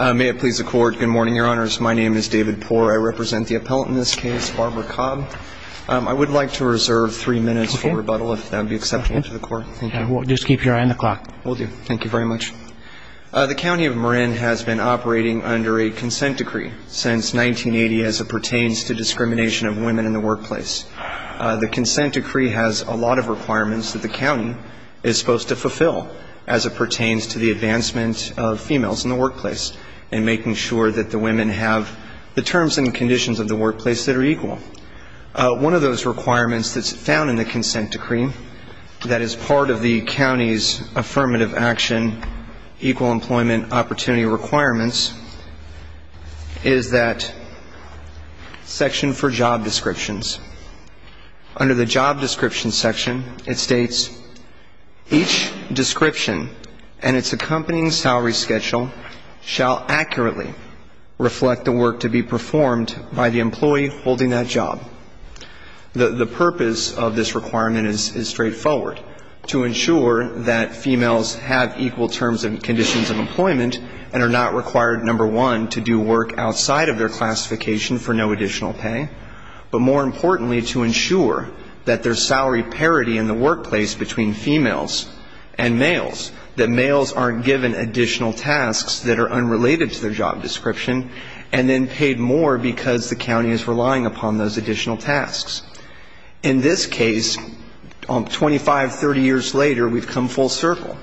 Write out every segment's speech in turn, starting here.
May it please the Court. Good morning, Your Honors. My name is David Poore. I represent the appellant in this case, Barbara Cobb. I would like to reserve three minutes for rebuttal, if that would be acceptable to the Court. Just keep your eye on the clock. Will do. Thank you very much. The County of Marin has been operating under a consent decree since 1980 as it pertains to discrimination of women in the workplace. The consent decree has a lot of requirements that the county is supposed to fulfill as it pertains to the advancement of females in the workplace and making sure that the women have the terms and conditions of the workplace that are equal. One of those requirements that's found in the consent decree that is part of the county's affirmative action equal employment opportunity requirements is that section for job descriptions. Under the job description section, it states each description and its accompanying salary schedule shall accurately reflect the work to be performed by the employee holding that job. The purpose of this requirement is straightforward, to ensure that females have equal terms and conditions of employment and are not required, number one, to do work outside of their classification for no additional pay, but more importantly to ensure that there's salary parity in the workplace between females and males, that males aren't given additional tasks that are unrelated to their job description and then paid more because the county is relying upon those additional tasks. In this case, 25, 30 years later, we've come full circle.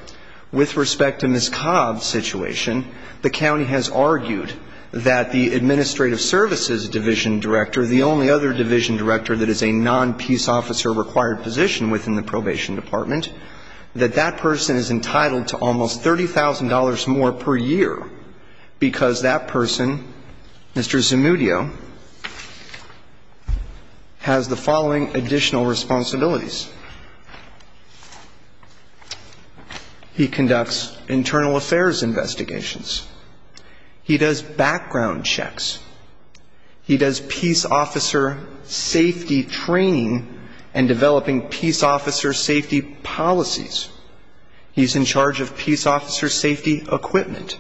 With respect to Ms. Cobb's situation, the county has argued that the administrative services division director, the only other division director that is a non-peace officer required position within the probation department, that that person is entitled to almost $30,000 more per year because that person, Mr. Zamudio, has the following additional responsibilities. He conducts internal affairs investigations. He does background checks. He does peace officer safety training and developing peace officer safety policies. He's in charge of peace officer safety equipment.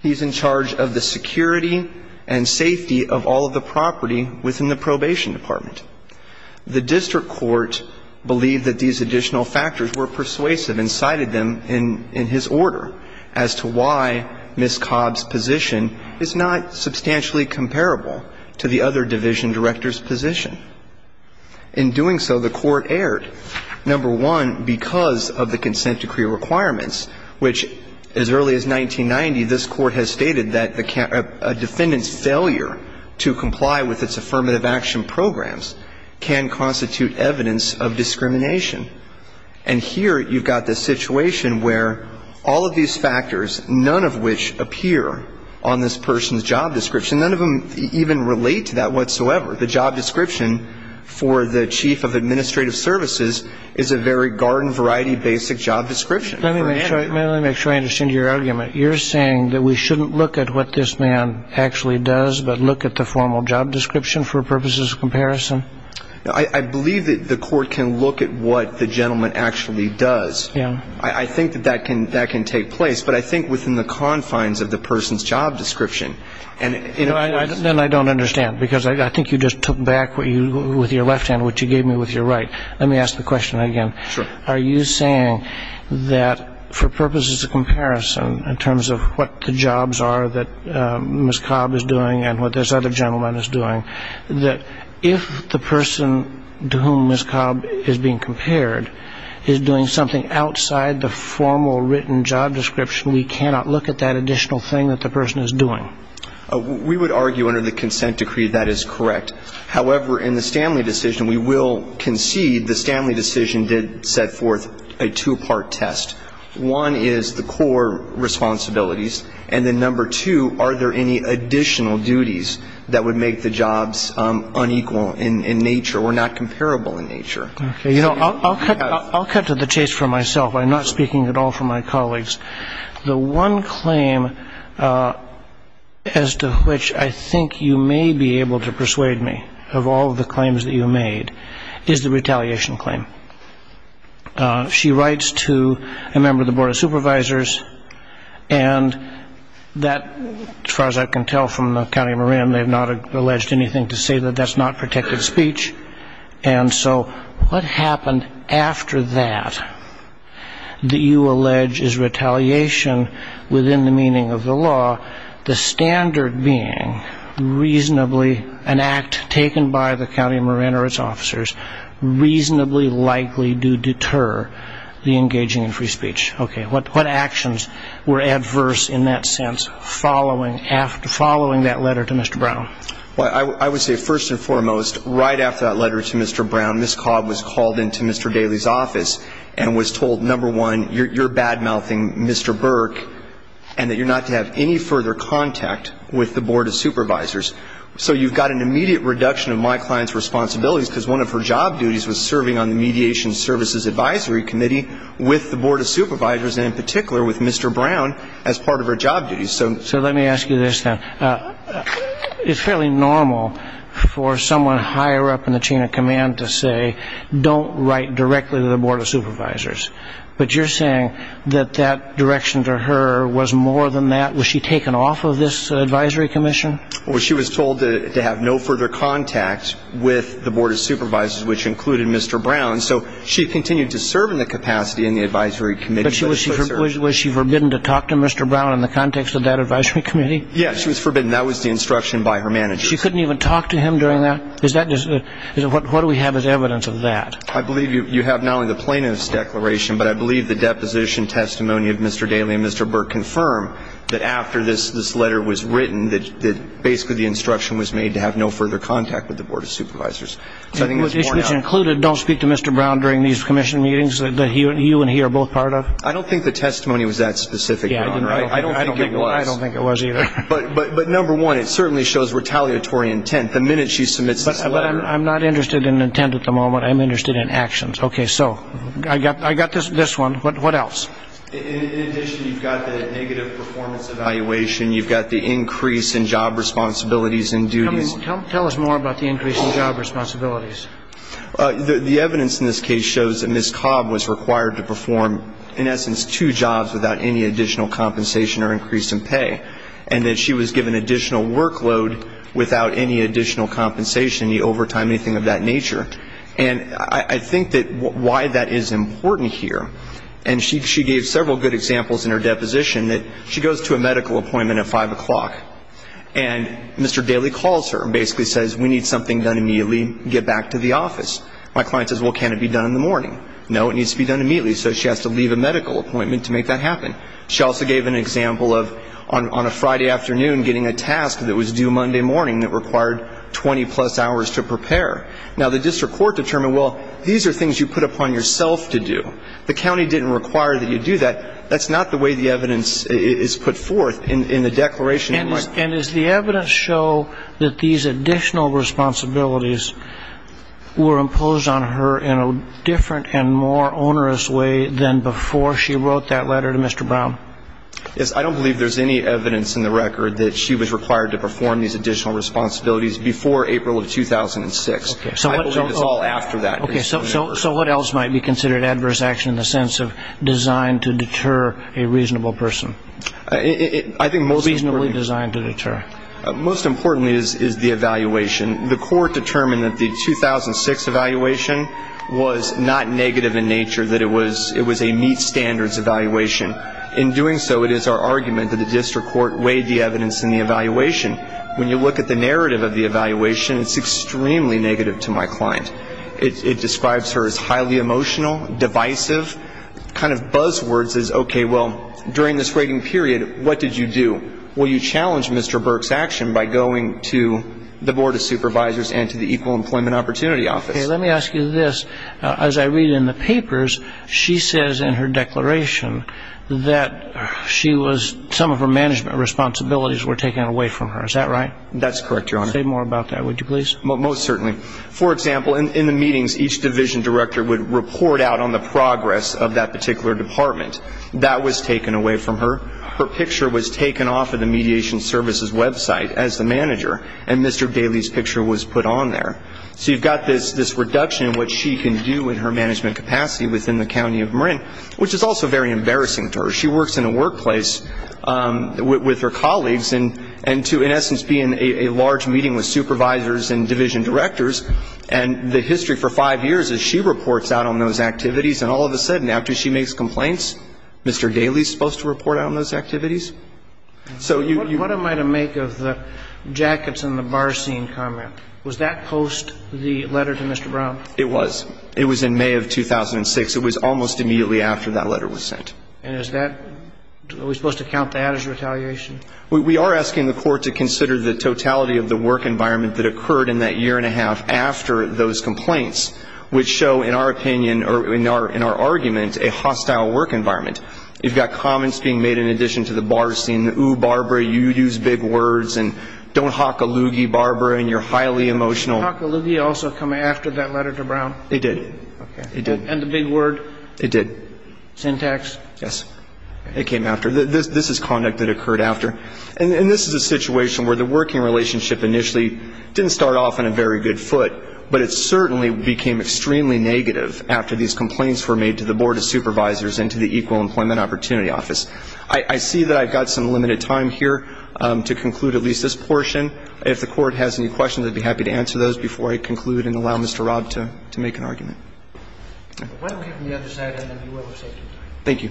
He's in charge of the security and safety of all of the property within the probation department. The district court believed that these additional factors were persuasive and cited them in his order as to why Ms. Cobb's position is not substantially comparable to the other division director's position. In doing so, the court erred, number one, because of the consent decree requirements, which, as early as 1990, this Court has stated that a defendant's failure to comply with its affirmative action programs can constitute evidence of discrimination. And here you've got this situation where all of these factors, none of which appear on this person's job description, none of them even relate to that whatsoever. The job description for the chief of administrative services is a very garden variety basic job description. Let me make sure I understand your argument. You're saying that we shouldn't look at what this man actually does but look at the formal job description for purposes of comparison? I believe that the court can look at what the gentleman actually does. I think that that can take place, but I think within the confines of the person's job description. Then I don't understand because I think you just took back with your left hand what you gave me with your right. Let me ask the question again. Sure. Are you saying that for purposes of comparison in terms of what the jobs are that Ms. Cobb is doing and what this other gentleman is doing, that if the person to whom Ms. Cobb is being compared is doing something outside the formal written job description, we cannot look at that additional thing that the person is doing? We would argue under the consent decree that is correct. However, in the Stanley decision, we will concede the Stanley decision did set forth a two-part test. One is the core responsibilities, and then number two, are there any additional duties that would make the jobs unequal in nature or not comparable in nature? Okay. You know, I'll cut to the chase for myself. I'm not speaking at all for my colleagues. The one claim as to which I think you may be able to persuade me of all of the claims that you made is the retaliation claim. She writes to a member of the Board of Supervisors, and that, as far as I can tell from the County of Marin, they have not alleged anything to say that that's not protected speech. And so what happened after that that you allege is retaliation within the meaning of the law, the standard being reasonably an act taken by the County of Marin or its officers, reasonably likely to deter the engaging in free speech? Okay. What actions were adverse in that sense following that letter to Mr. Brown? Well, I would say first and foremost, right after that letter to Mr. Brown, Ms. Cobb was called into Mr. Daley's office and was told, number one, you're bad-mouthing Mr. Burke and that you're not to have any further contact with the Board of Supervisors. So you've got an immediate reduction of my client's responsibilities because one of her job duties was serving on the Mediation Services Advisory Committee with the Board of Supervisors, and in particular with Mr. Brown as part of her job duties. So let me ask you this, then. It's fairly normal for someone higher up in the chain of command to say, don't write directly to the Board of Supervisors. But you're saying that that direction to her was more than that? Was she taken off of this Advisory Commission? Well, she was told to have no further contact with the Board of Supervisors, which included Mr. Brown. So she continued to serve in the capacity in the Advisory Committee. But was she forbidden to talk to Mr. Brown in the context of that Advisory Committee? Yes, she was forbidden. That was the instruction by her manager. She couldn't even talk to him during that? What do we have as evidence of that? I believe you have now in the plaintiff's declaration, but I believe the deposition testimony of Mr. Daley and Mr. Burke confirm that after this letter was written, that basically the instruction was made to have no further contact with the Board of Supervisors. Which included don't speak to Mr. Brown during these commission meetings that you and he are both part of? I don't think the testimony was that specific, Ron. I don't think it was. I don't think it was either. But number one, it certainly shows retaliatory intent. The minute she submits this letter. But I'm not interested in intent at the moment. I'm interested in actions. Okay, so I got this one. What else? In addition, you've got the negative performance evaluation. You've got the increase in job responsibilities and duties. Tell us more about the increase in job responsibilities. The evidence in this case shows that Ms. Cobb was required to perform, in essence, two jobs without any additional compensation or increase in pay, and that she was given additional workload without any additional compensation, any overtime, anything of that nature. And I think that why that is important here, and she gave several good examples in her deposition, that she goes to a medical appointment at 5 o'clock, and Mr. Daley calls her and basically says, we need something done immediately and get back to the office. My client says, well, can't it be done in the morning? No, it needs to be done immediately. So she has to leave a medical appointment to make that happen. She also gave an example of, on a Friday afternoon, getting a task that was due Monday morning that required 20-plus hours to prepare. Now, the district court determined, well, these are things you put upon yourself to do. The county didn't require that you do that. That's not the way the evidence is put forth in the Declaration of Merit. And does the evidence show that these additional responsibilities were imposed on her in a different and more onerous way than before she wrote that letter to Mr. Brown? Yes, I don't believe there's any evidence in the record that she was required to perform these additional responsibilities before April of 2006. I believe it's all after that. Okay, so what else might be considered adverse action in the sense of designed to deter a reasonable person? I think most importantly is the evaluation. The court determined that the 2006 evaluation was not negative in nature, that it was a meet standards evaluation. In doing so, it is our argument that the district court weighed the evidence in the evaluation. When you look at the narrative of the evaluation, it's extremely negative to my client. It describes her as highly emotional, divisive. One of the kind of buzzwords is, okay, well, during this waiting period, what did you do? Well, you challenged Mr. Burke's action by going to the Board of Supervisors and to the Equal Employment Opportunity Office. Okay, let me ask you this. As I read in the papers, she says in her declaration that she was ‑‑ some of her management responsibilities were taken away from her. Is that right? That's correct, Your Honor. Say more about that, would you please? Most certainly. For example, in the meetings, each division director would report out on the progress of that particular department. That was taken away from her. Her picture was taken off of the Mediation Services website as the manager, and Mr. Daley's picture was put on there. So you've got this reduction in what she can do in her management capacity within the county of Marin, which is also very embarrassing to her. She works in a workplace with her colleagues, and to, in essence, be in a large meeting with supervisors and division directors, and the history for five years is she reports out on those activities, and all of a sudden after she makes complaints, Mr. Daley's supposed to report out on those activities? What am I to make of the jackets and the bar scene comment? Was that post the letter to Mr. Brown? It was. It was in May of 2006. It was almost immediately after that letter was sent. And is that ‑‑ are we supposed to count that as retaliation? We are asking the court to consider the totality of the work environment that occurred in that year and a half after those complaints, which show in our opinion or in our argument a hostile work environment. You've got comments being made in addition to the bar scene, ooh, Barbara, you use big words, and don't hock a loogie, Barbara, and you're highly emotional. Did the hock a loogie also come after that letter to Brown? It did. Okay. It did. And the big word? It did. Syntax? Yes. It came after. This is conduct that occurred after. And this is a situation where the working relationship initially didn't start off on a very good foot, but it certainly became extremely negative after these complaints were made to the Board of Supervisors and to the Equal Employment Opportunity Office. I see that I've got some limited time here to conclude at least this portion. If the court has any questions, I'd be happy to answer those before I conclude and allow Mr. Robb to make an argument. Why don't we have him on the other side and then we will have safety time. Thank you.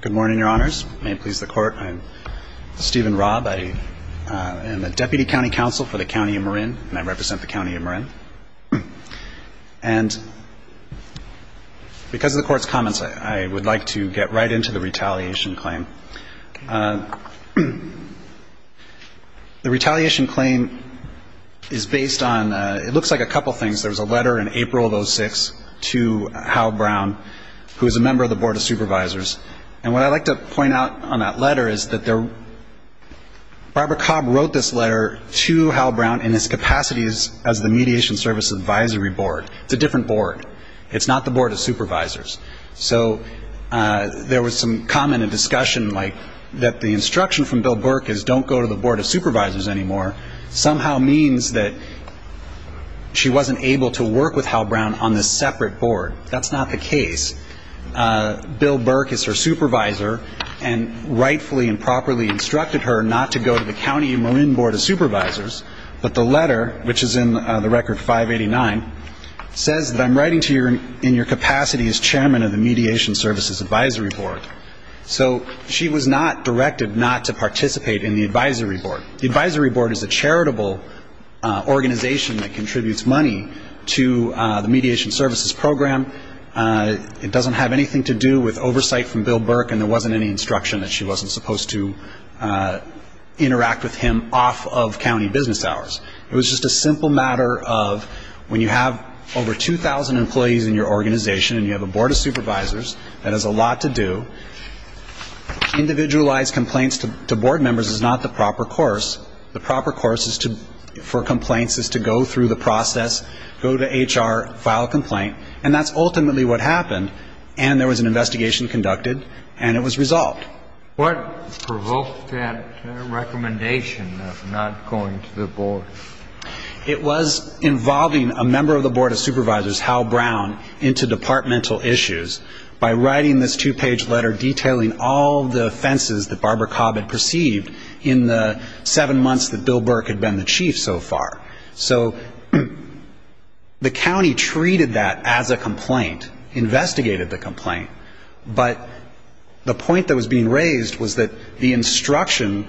Good morning, Your Honors. May it please the Court. I'm Stephen Robb. I am the Deputy County Counsel for the County of Marin, and I represent the County of Marin. And because of the Court's comments, I would like to get right into the retaliation claim. The retaliation claim is based on, it looks like a couple things. There was a letter in April of 06 to Hal Brown, who is a member of the Board of Supervisors. And what I'd like to point out on that letter is that Barbara Cobb wrote this letter to Hal Brown in his capacities as the Mediation Service Advisory Board. It's a different board. It's not the Board of Supervisors. So there was some comment and discussion like that the instruction from Bill Burke is don't go to the Board of Supervisors anymore somehow means that she wasn't able to work with Hal Brown on this separate board. That's not the case. Bill Burke is her supervisor and rightfully and properly instructed her not to go to the County of Marin Board of Supervisors, but the letter, which is in the Record 589, says that I'm writing to you in your capacity as Chairman of the Mediation Services Advisory Board. So she was not directed not to participate in the Advisory Board. The Advisory Board is a charitable organization that contributes money to the Mediation Services Program. It doesn't have anything to do with oversight from Bill Burke, and there wasn't any instruction that she wasn't supposed to interact with him off of county business hours. It was just a simple matter of when you have over 2,000 employees in your organization and you have a Board of Supervisors that has a lot to do, individualized complaints to board members is not the proper course. The proper course for complaints is to go through the process, go to HR, file a complaint, and that's ultimately what happened. And there was an investigation conducted, and it was resolved. What provoked that recommendation of not going to the Board? It was involving a member of the Board of Supervisors, Hal Brown, into departmental issues by writing this two-page letter detailing all the offenses that Barbara Cobb had perceived in the seven months that Bill Burke had been the chief so far. So the county treated that as a complaint, investigated the complaint, but the point that was being raised was that the instruction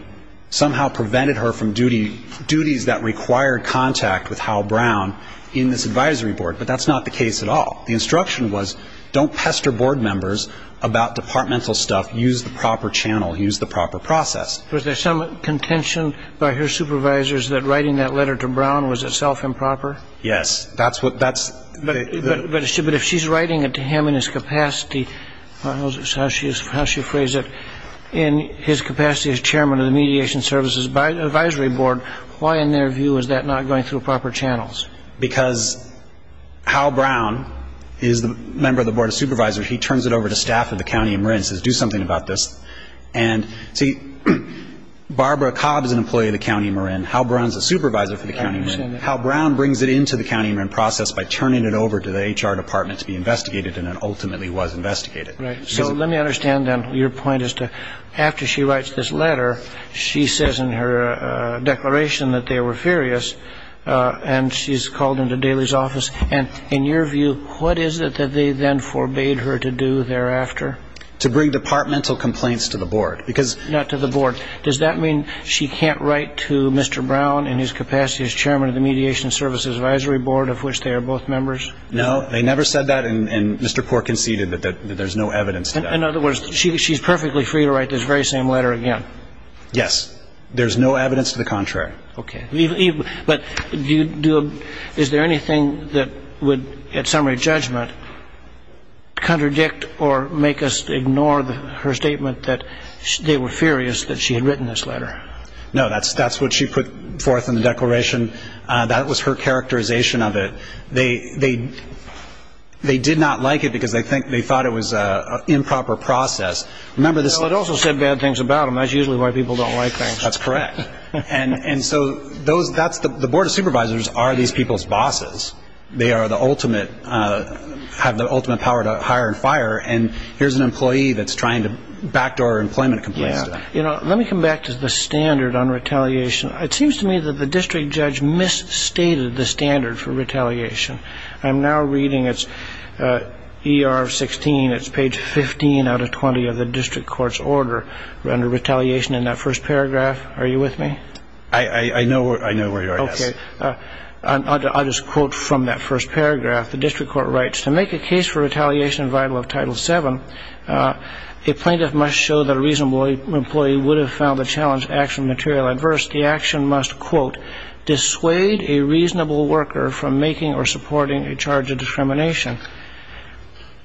somehow prevented her from duties that required contact with Hal Brown in this advisory board. But that's not the case at all. The instruction was don't pester board members about departmental stuff. Use the proper channel. Use the proper process. Was there some contention by her supervisors that writing that letter to Brown was itself improper? Yes. But if she's writing it to him in his capacity, how she phrased it, in his capacity as chairman of the Mediation Services Advisory Board, why in their view is that not going through proper channels? Because Hal Brown is the member of the Board of Supervisors. He turns it over to staff of the county and says do something about this. And, see, Barbara Cobb is an employee of the county Marin. Hal Brown is a supervisor for the county Marin. Hal Brown brings it into the county Marin process by turning it over to the HR department to be investigated, and it ultimately was investigated. Right. So let me understand then your point as to after she writes this letter, she says in her declaration that they were furious, and she's called into Daly's office. And in your view, what is it that they then forbade her to do thereafter? To bring departmental complaints to the board. Not to the board. Does that mean she can't write to Mr. Brown in his capacity as chairman of the Mediation Services Advisory Board, of which they are both members? No. They never said that, and Mr. Pork conceded that there's no evidence to that. In other words, she's perfectly free to write this very same letter again. Yes. There's no evidence to the contrary. Okay. But is there anything that would, at summary judgment, contradict or make us ignore her statement that they were furious that she had written this letter? No. That's what she put forth in the declaration. That was her characterization of it. They did not like it because they thought it was an improper process. It also said bad things about them. That's usually why people don't like things. That's correct. And so the Board of Supervisors are these people's bosses. They have the ultimate power to hire and fire, and here's an employee that's trying to backdoor employment complaints to them. Let me come back to the standard on retaliation. It seems to me that the district judge misstated the standard for retaliation. I'm now reading it's ER 16. It's page 15 out of 20 of the district court's order under retaliation in that first paragraph. Are you with me? I know where you are, yes. Okay. I'll just quote from that first paragraph. The district court writes, To make a case for retaliation vital of Title VII, a plaintiff must show that a reasonable employee would have found the challenged action material adverse. The action must, quote, dissuade a reasonable worker from making or supporting a charge of discrimination.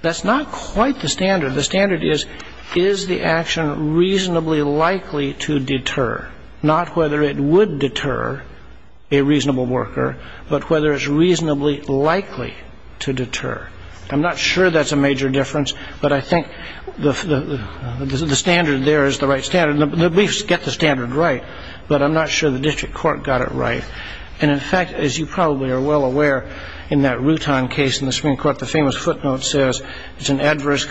That's not quite the standard. The standard is, is the action reasonably likely to deter, not whether it would deter a reasonable worker, but whether it's reasonably likely to deter. I'm not sure that's a major difference, but I think the standard there is the right standard, and the briefs get the standard right, but I'm not sure the district court got it right. And, in fact, as you probably are well aware, in that Rutan case in the Supreme Court, the famous footnote says it's an adverse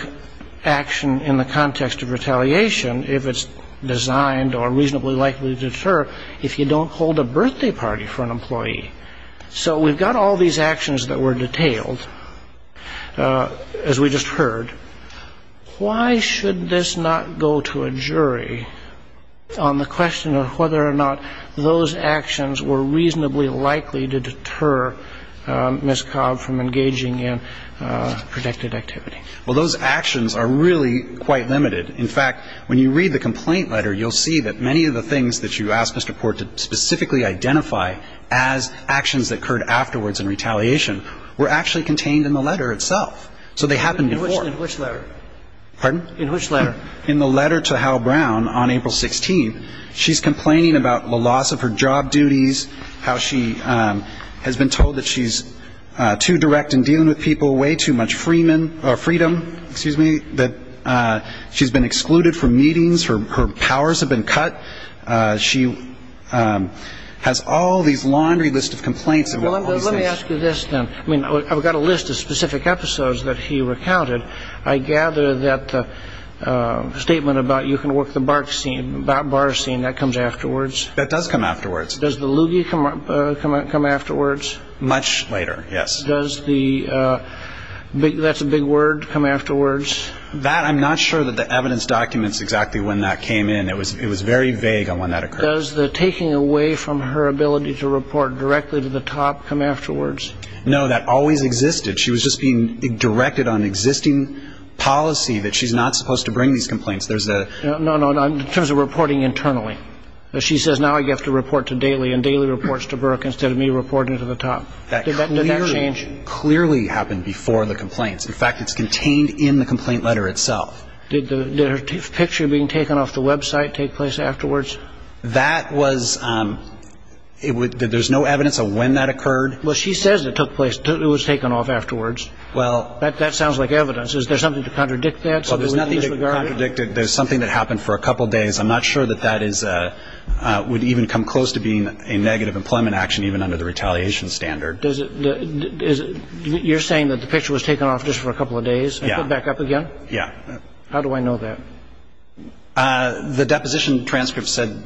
action in the context of retaliation if it's designed or reasonably likely to deter if you don't hold a birthday party for an employee. So we've got all these actions that were detailed, as we just heard. Why should this not go to a jury on the question of whether or not those actions were reasonably likely to deter Ms. Cobb from engaging in protected activity? Well, those actions are really quite limited. In fact, when you read the complaint letter, you'll see that many of the things that you asked Mr. Port to specifically identify as actions that occurred afterwards in retaliation were actually contained in the letter itself. So they happened before. In which letter? Pardon? In which letter? In the letter to Hal Brown on April 16th. She's complaining about the loss of her job duties, how she has been told that she's too direct in dealing with people, way too much freedom, that she's been excluded from meetings, her powers have been cut. She has all these laundry lists of complaints. Let me ask you this, then. I've got a list of specific episodes that he recounted. I gather that the statement about you can work the bar scene, that comes afterwards? That does come afterwards. Does the loogie come afterwards? Much later, yes. Does the big word come afterwards? That I'm not sure that the evidence documents exactly when that came in. It was very vague on when that occurred. Does the taking away from her ability to report directly to the top come afterwards? No, that always existed. She was just being directed on existing policy that she's not supposed to bring these complaints. No, no, in terms of reporting internally. She says now you have to report to daily, and daily reports to Burke instead of me reporting to the top. Did that change? That clearly happened before the complaints. In fact, it's contained in the complaint letter itself. Did her picture being taken off the website take place afterwards? That was ñ there's no evidence of when that occurred? Well, she says it took place, it was taken off afterwards. Well ñ That sounds like evidence. Is there something to contradict that? Well, there's nothing to contradict it. There's something that happened for a couple days. I'm not sure that that is ñ would even come close to being a negative employment action even under the retaliation standard. Does it ñ you're saying that the picture was taken off just for a couple of days and put back up again? Yeah. How do I know that? The deposition transcript said ñ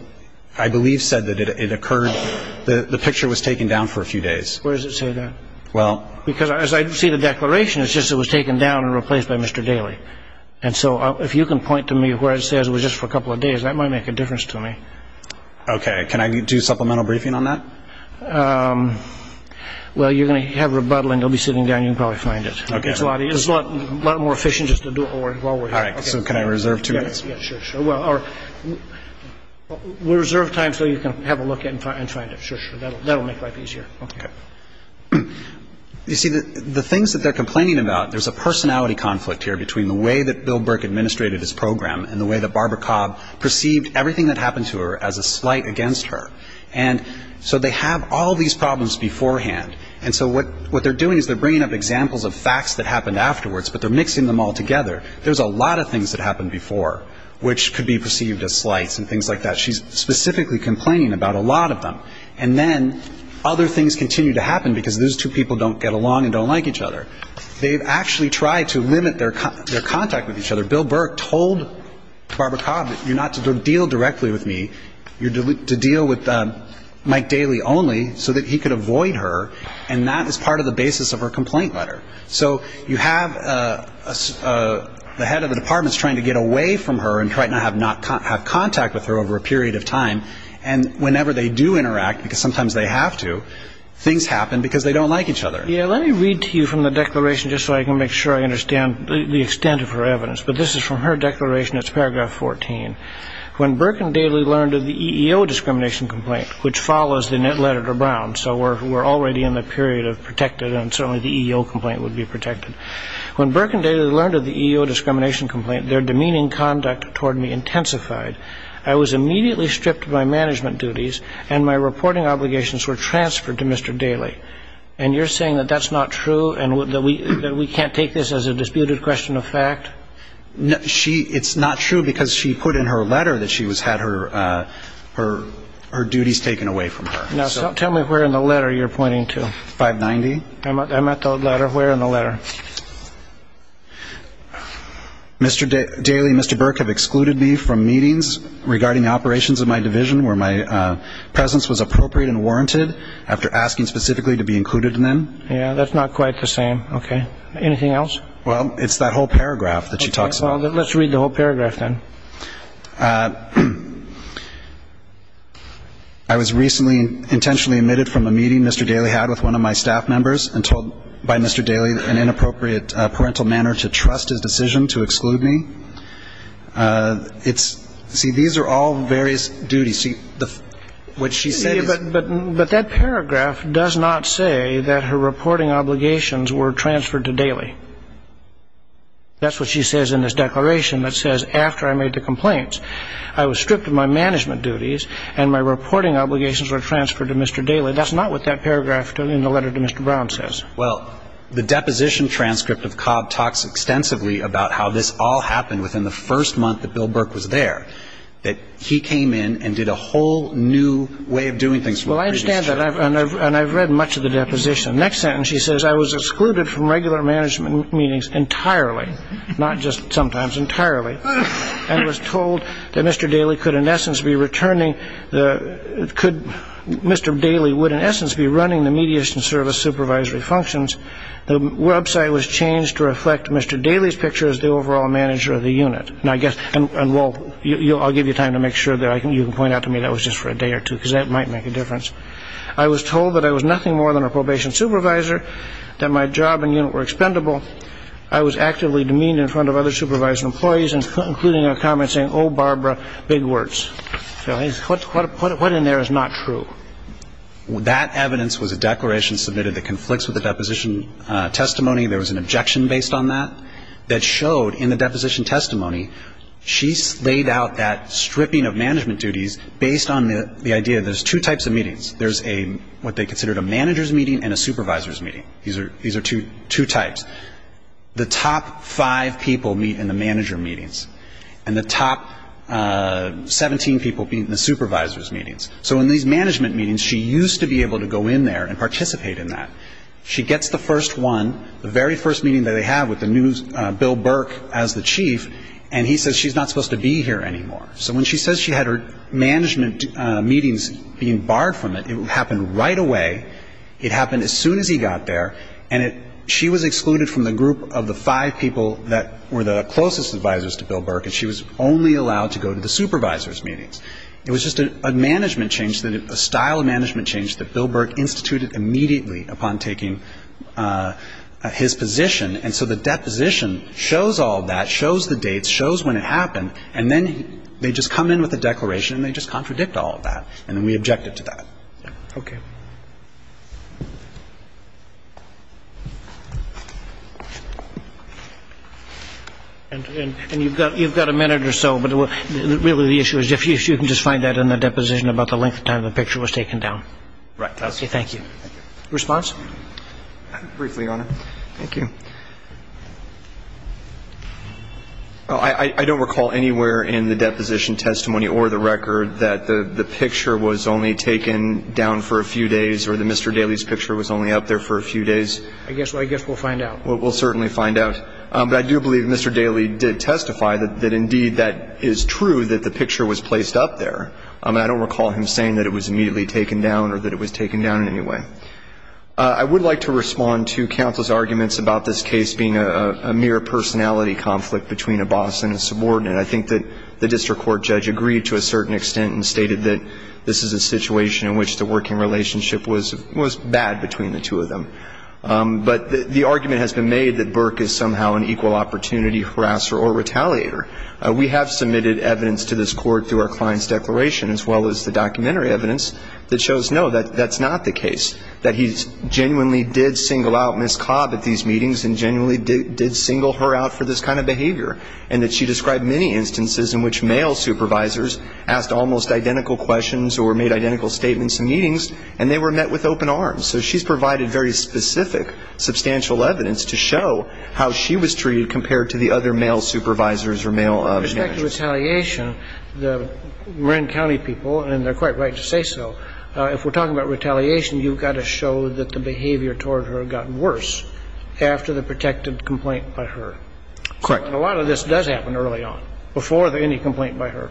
I believe said that it occurred ñ the picture was taken down for a few days. Where does it say that? Well ñ Because as I see the declaration, it's just it was taken down and replaced by Mr. Daly. And so if you can point to me where it says it was just for a couple of days, that might make a difference to me. Okay. Can I do supplemental briefing on that? Well, you're going to have rebuttal and you'll be sitting down and you'll probably find it. Okay. It's a lot more efficient just to do it while we're here. All right. So can I reserve two minutes? Yeah, sure, sure. Well, we'll reserve time so you can have a look at it and find it. Sure, sure. That'll make life easier. Okay. You see, the things that they're complaining about ñ there's a personality conflict here between the way that Bill Burke administrated his program and the way that Barbara Cobb perceived everything that happened to her as a slight against her. And so they have all these problems beforehand. And so what they're doing is they're bringing up examples of facts that happened afterwards, but they're mixing them all together. There's a lot of things that happened before which could be perceived as slights and things like that. She's specifically complaining about a lot of them. And then other things continue to happen because those two people don't get along and don't like each other. They've actually tried to limit their contact with each other. Bill Burke told Barbara Cobb, you're not to deal directly with me. You're to deal with Mike Daly only so that he could avoid her, and that is part of the basis of her complaint letter. So you have the head of the department is trying to get away from her and try to not have contact with her over a period of time. And whenever they do interact, because sometimes they have to, things happen because they don't like each other. Yeah, let me read to you from the declaration just so I can make sure I understand the extent of her evidence. But this is from her declaration. It's paragraph 14. When Burke and Daly learned of the EEO discrimination complaint, which follows the net letter to Brown, so we're already in the period of protected and certainly the EEO complaint would be protected. When Burke and Daly learned of the EEO discrimination complaint, their demeaning conduct toward me intensified. I was immediately stripped of my management duties, and my reporting obligations were transferred to Mr. Daly. And you're saying that that's not true and that we can't take this as a disputed question of fact? It's not true because she put in her letter that she had her duties taken away from her. Now, tell me where in the letter you're pointing to. 590. I'm at the letter. Where in the letter? Mr. Daly and Mr. Burke have excluded me from meetings regarding operations of my division where my presence was appropriate and warranted after asking specifically to be included in them. Yeah, that's not quite the same. Okay. Anything else? Well, it's that whole paragraph that she talks about. Okay. Well, let's read the whole paragraph then. I was recently intentionally omitted from a meeting Mr. Daly had with one of my staff members and told by Mr. Daly an inappropriate parental manner to trust his decision to exclude me. See, these are all various duties. See, what she said is ---- But that paragraph does not say that her reporting obligations were transferred to Daly. That's what she says in this declaration that says, after I made the complaints, I was stripped of my management duties and my reporting obligations were transferred to Mr. Daly. That's not what that paragraph in the letter to Mr. Brown says. Well, the deposition transcript of Cobb talks extensively about how this all happened within the first month that Bill Burke was there, that he came in and did a whole new way of doing things from the previous term. Well, I understand that, and I've read much of the deposition. Next sentence she says, I was excluded from regular management meetings entirely, not just sometimes, entirely, and was told that Mr. Daly could in essence be returning the ---- Mr. Daly would in essence be running the mediation service supervisory functions. The website was changed to reflect Mr. Daly's picture as the overall manager of the unit. And I guess ---- and I'll give you time to make sure that you can point out to me that was just for a day or two because that might make a difference. I was told that I was nothing more than a probation supervisor, that my job and unit were expendable. I was actively demeaned in front of other supervisory employees, including a comment saying, oh, Barbara, big words. So what in there is not true? That evidence was a declaration submitted that conflicts with the deposition testimony. There was an objection based on that that showed in the deposition testimony, she laid out that stripping of management duties based on the idea there's two types of meetings. These are two types. The top five people meet in the manager meetings, and the top 17 people meet in the supervisor's meetings. So in these management meetings, she used to be able to go in there and participate in that. She gets the first one, the very first meeting that they have with the new Bill Burke as the chief, and he says she's not supposed to be here anymore. So when she says she had her management meetings being barred from it, it happened right away. It happened as soon as he got there, and she was excluded from the group of the five people that were the closest advisors to Bill Burke, and she was only allowed to go to the supervisor's meetings. It was just a management change, a style of management change that Bill Burke instituted immediately upon taking his position. And so the deposition shows all that, shows the dates, shows when it happened, and then they just come in with a declaration, and they just contradict all of that. And then we objected to that. Okay. And you've got a minute or so, but really the issue is if you can just find that in the deposition about the length of time the picture was taken down. Right. Thank you. Response? Briefly, Your Honor. Thank you. I don't recall anywhere in the deposition testimony or the record that the picture was only taken down for a few days or that Mr. Daley's picture was only up there for a few days. I guess we'll find out. We'll certainly find out. But I do believe Mr. Daley did testify that, indeed, that is true, that the picture was placed up there. I don't recall him saying that it was immediately taken down or that it was taken down in any way. I would like to respond to counsel's arguments about this case being a mere personality conflict between a boss and a subordinate. I think that the district court judge agreed to a certain extent and stated that this is a situation in which the working relationship was bad between the two of them. But the argument has been made that Burke is somehow an equal opportunity harasser or retaliator. We have submitted evidence to this court through our client's declaration, as well as the documentary evidence, that shows, no, that's not the case, that he genuinely did single out Ms. Cobb at these meetings and genuinely did single her out for this kind of behavior, and that she described many instances in which male supervisors asked almost identical questions or made identical statements in meetings, and they were met with open arms. So she's provided very specific, substantial evidence to show how she was treated compared to the other male supervisors or male managers. With respect to retaliation, the Marin County people, and they're quite right to say so, if we're talking about retaliation, you've got to show that the behavior toward her got worse after the protected complaint by her. Correct. A lot of this does happen early on, before any complaint by her.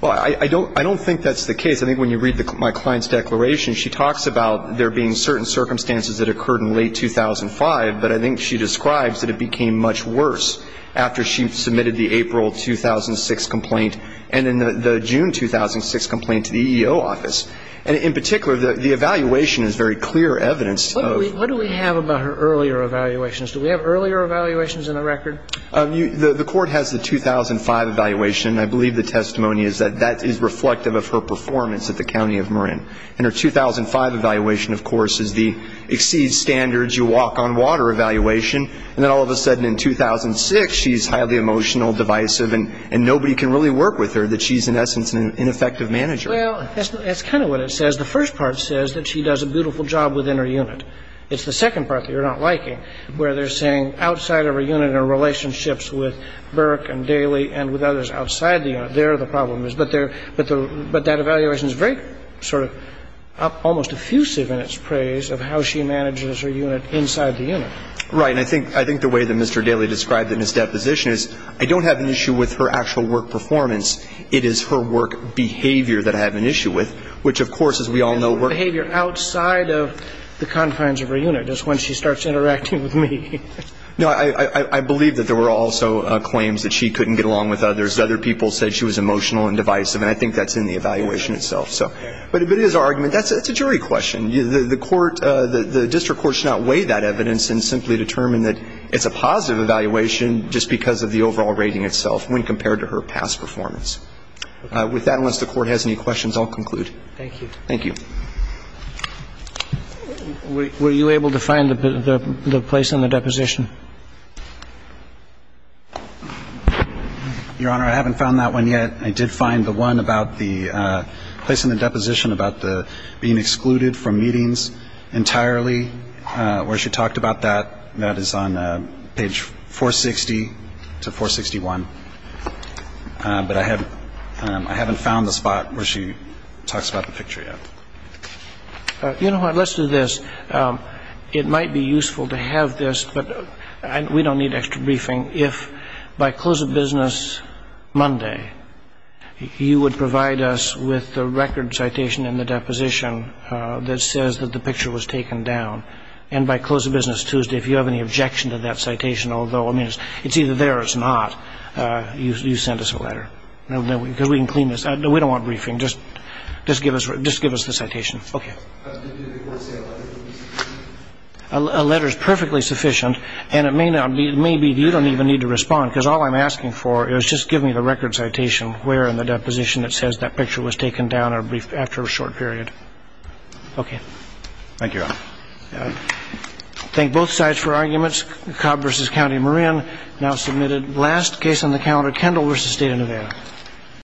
Well, I don't think that's the case. I think when you read my client's declaration, she talks about there being certain circumstances that occurred in late 2005, but I think she describes that it became much worse after she submitted the April 2006 complaint and then the June 2006 complaint to the EEO office. And in particular, the evaluation is very clear evidence of her. What do we have about her earlier evaluations? Do we have earlier evaluations in the record? The Court has the 2005 evaluation. I believe the testimony is that that is reflective of her performance at the County of Marin. And her 2005 evaluation, of course, is the exceeds standards, you walk on water evaluation. And then all of a sudden in 2006, she's highly emotional, divisive, and nobody can really work with her, that she's in essence an ineffective manager. Well, that's kind of what it says. The first part says that she does a beautiful job within her unit. It's the second part that you're not liking, where they're saying outside of her unit are relationships with Burke and Daly and with others outside the unit. I don't know what the problem is there. The problem is there, but that evaluation is very sort of almost effusive in its praise of how she manages her unit inside the unit. Right. And I think the way that Mr. Daly described it in his deposition is I don't have an issue with her actual work performance. It is her work behavior that I have an issue with, which, of course, as we all know, work behavior outside of the confines of her unit is when she starts interacting with me. No, I believe that there were also claims that she couldn't get along with others. Other people said she was emotional and divisive, and I think that's in the evaluation itself. But if it is our argument, that's a jury question. The court, the district court should not weigh that evidence and simply determine that it's a positive evaluation just because of the overall rating itself when compared to her past performance. With that, unless the court has any questions, I'll conclude. Thank you. Thank you. Were you able to find the place in the deposition? Your Honor, I haven't found that one yet. I did find the one about the place in the deposition about being excluded from meetings entirely, where she talked about that. That is on page 460 to 461. But I haven't found the spot where she talks about the picture yet. Your Honor, let's do this. It might be useful to have this, but we don't need extra briefing. If by close of business Monday, you would provide us with the record citation in the deposition that says that the picture was taken down, and by close of business Tuesday, if you have any objection to that citation, although it's either there or it's not, you send us a letter because we can clean this. We don't want briefing. Just give us the citation. Okay. A letter is perfectly sufficient, and it may be you don't even need to respond because all I'm asking for is just give me the record citation where in the deposition it says that picture was taken down after a short period. Okay. Thank you, Your Honor. Thank both sides for arguments. Cobb v. County Marin now submitted last case on the calendar, Kendall v. State of Nevada.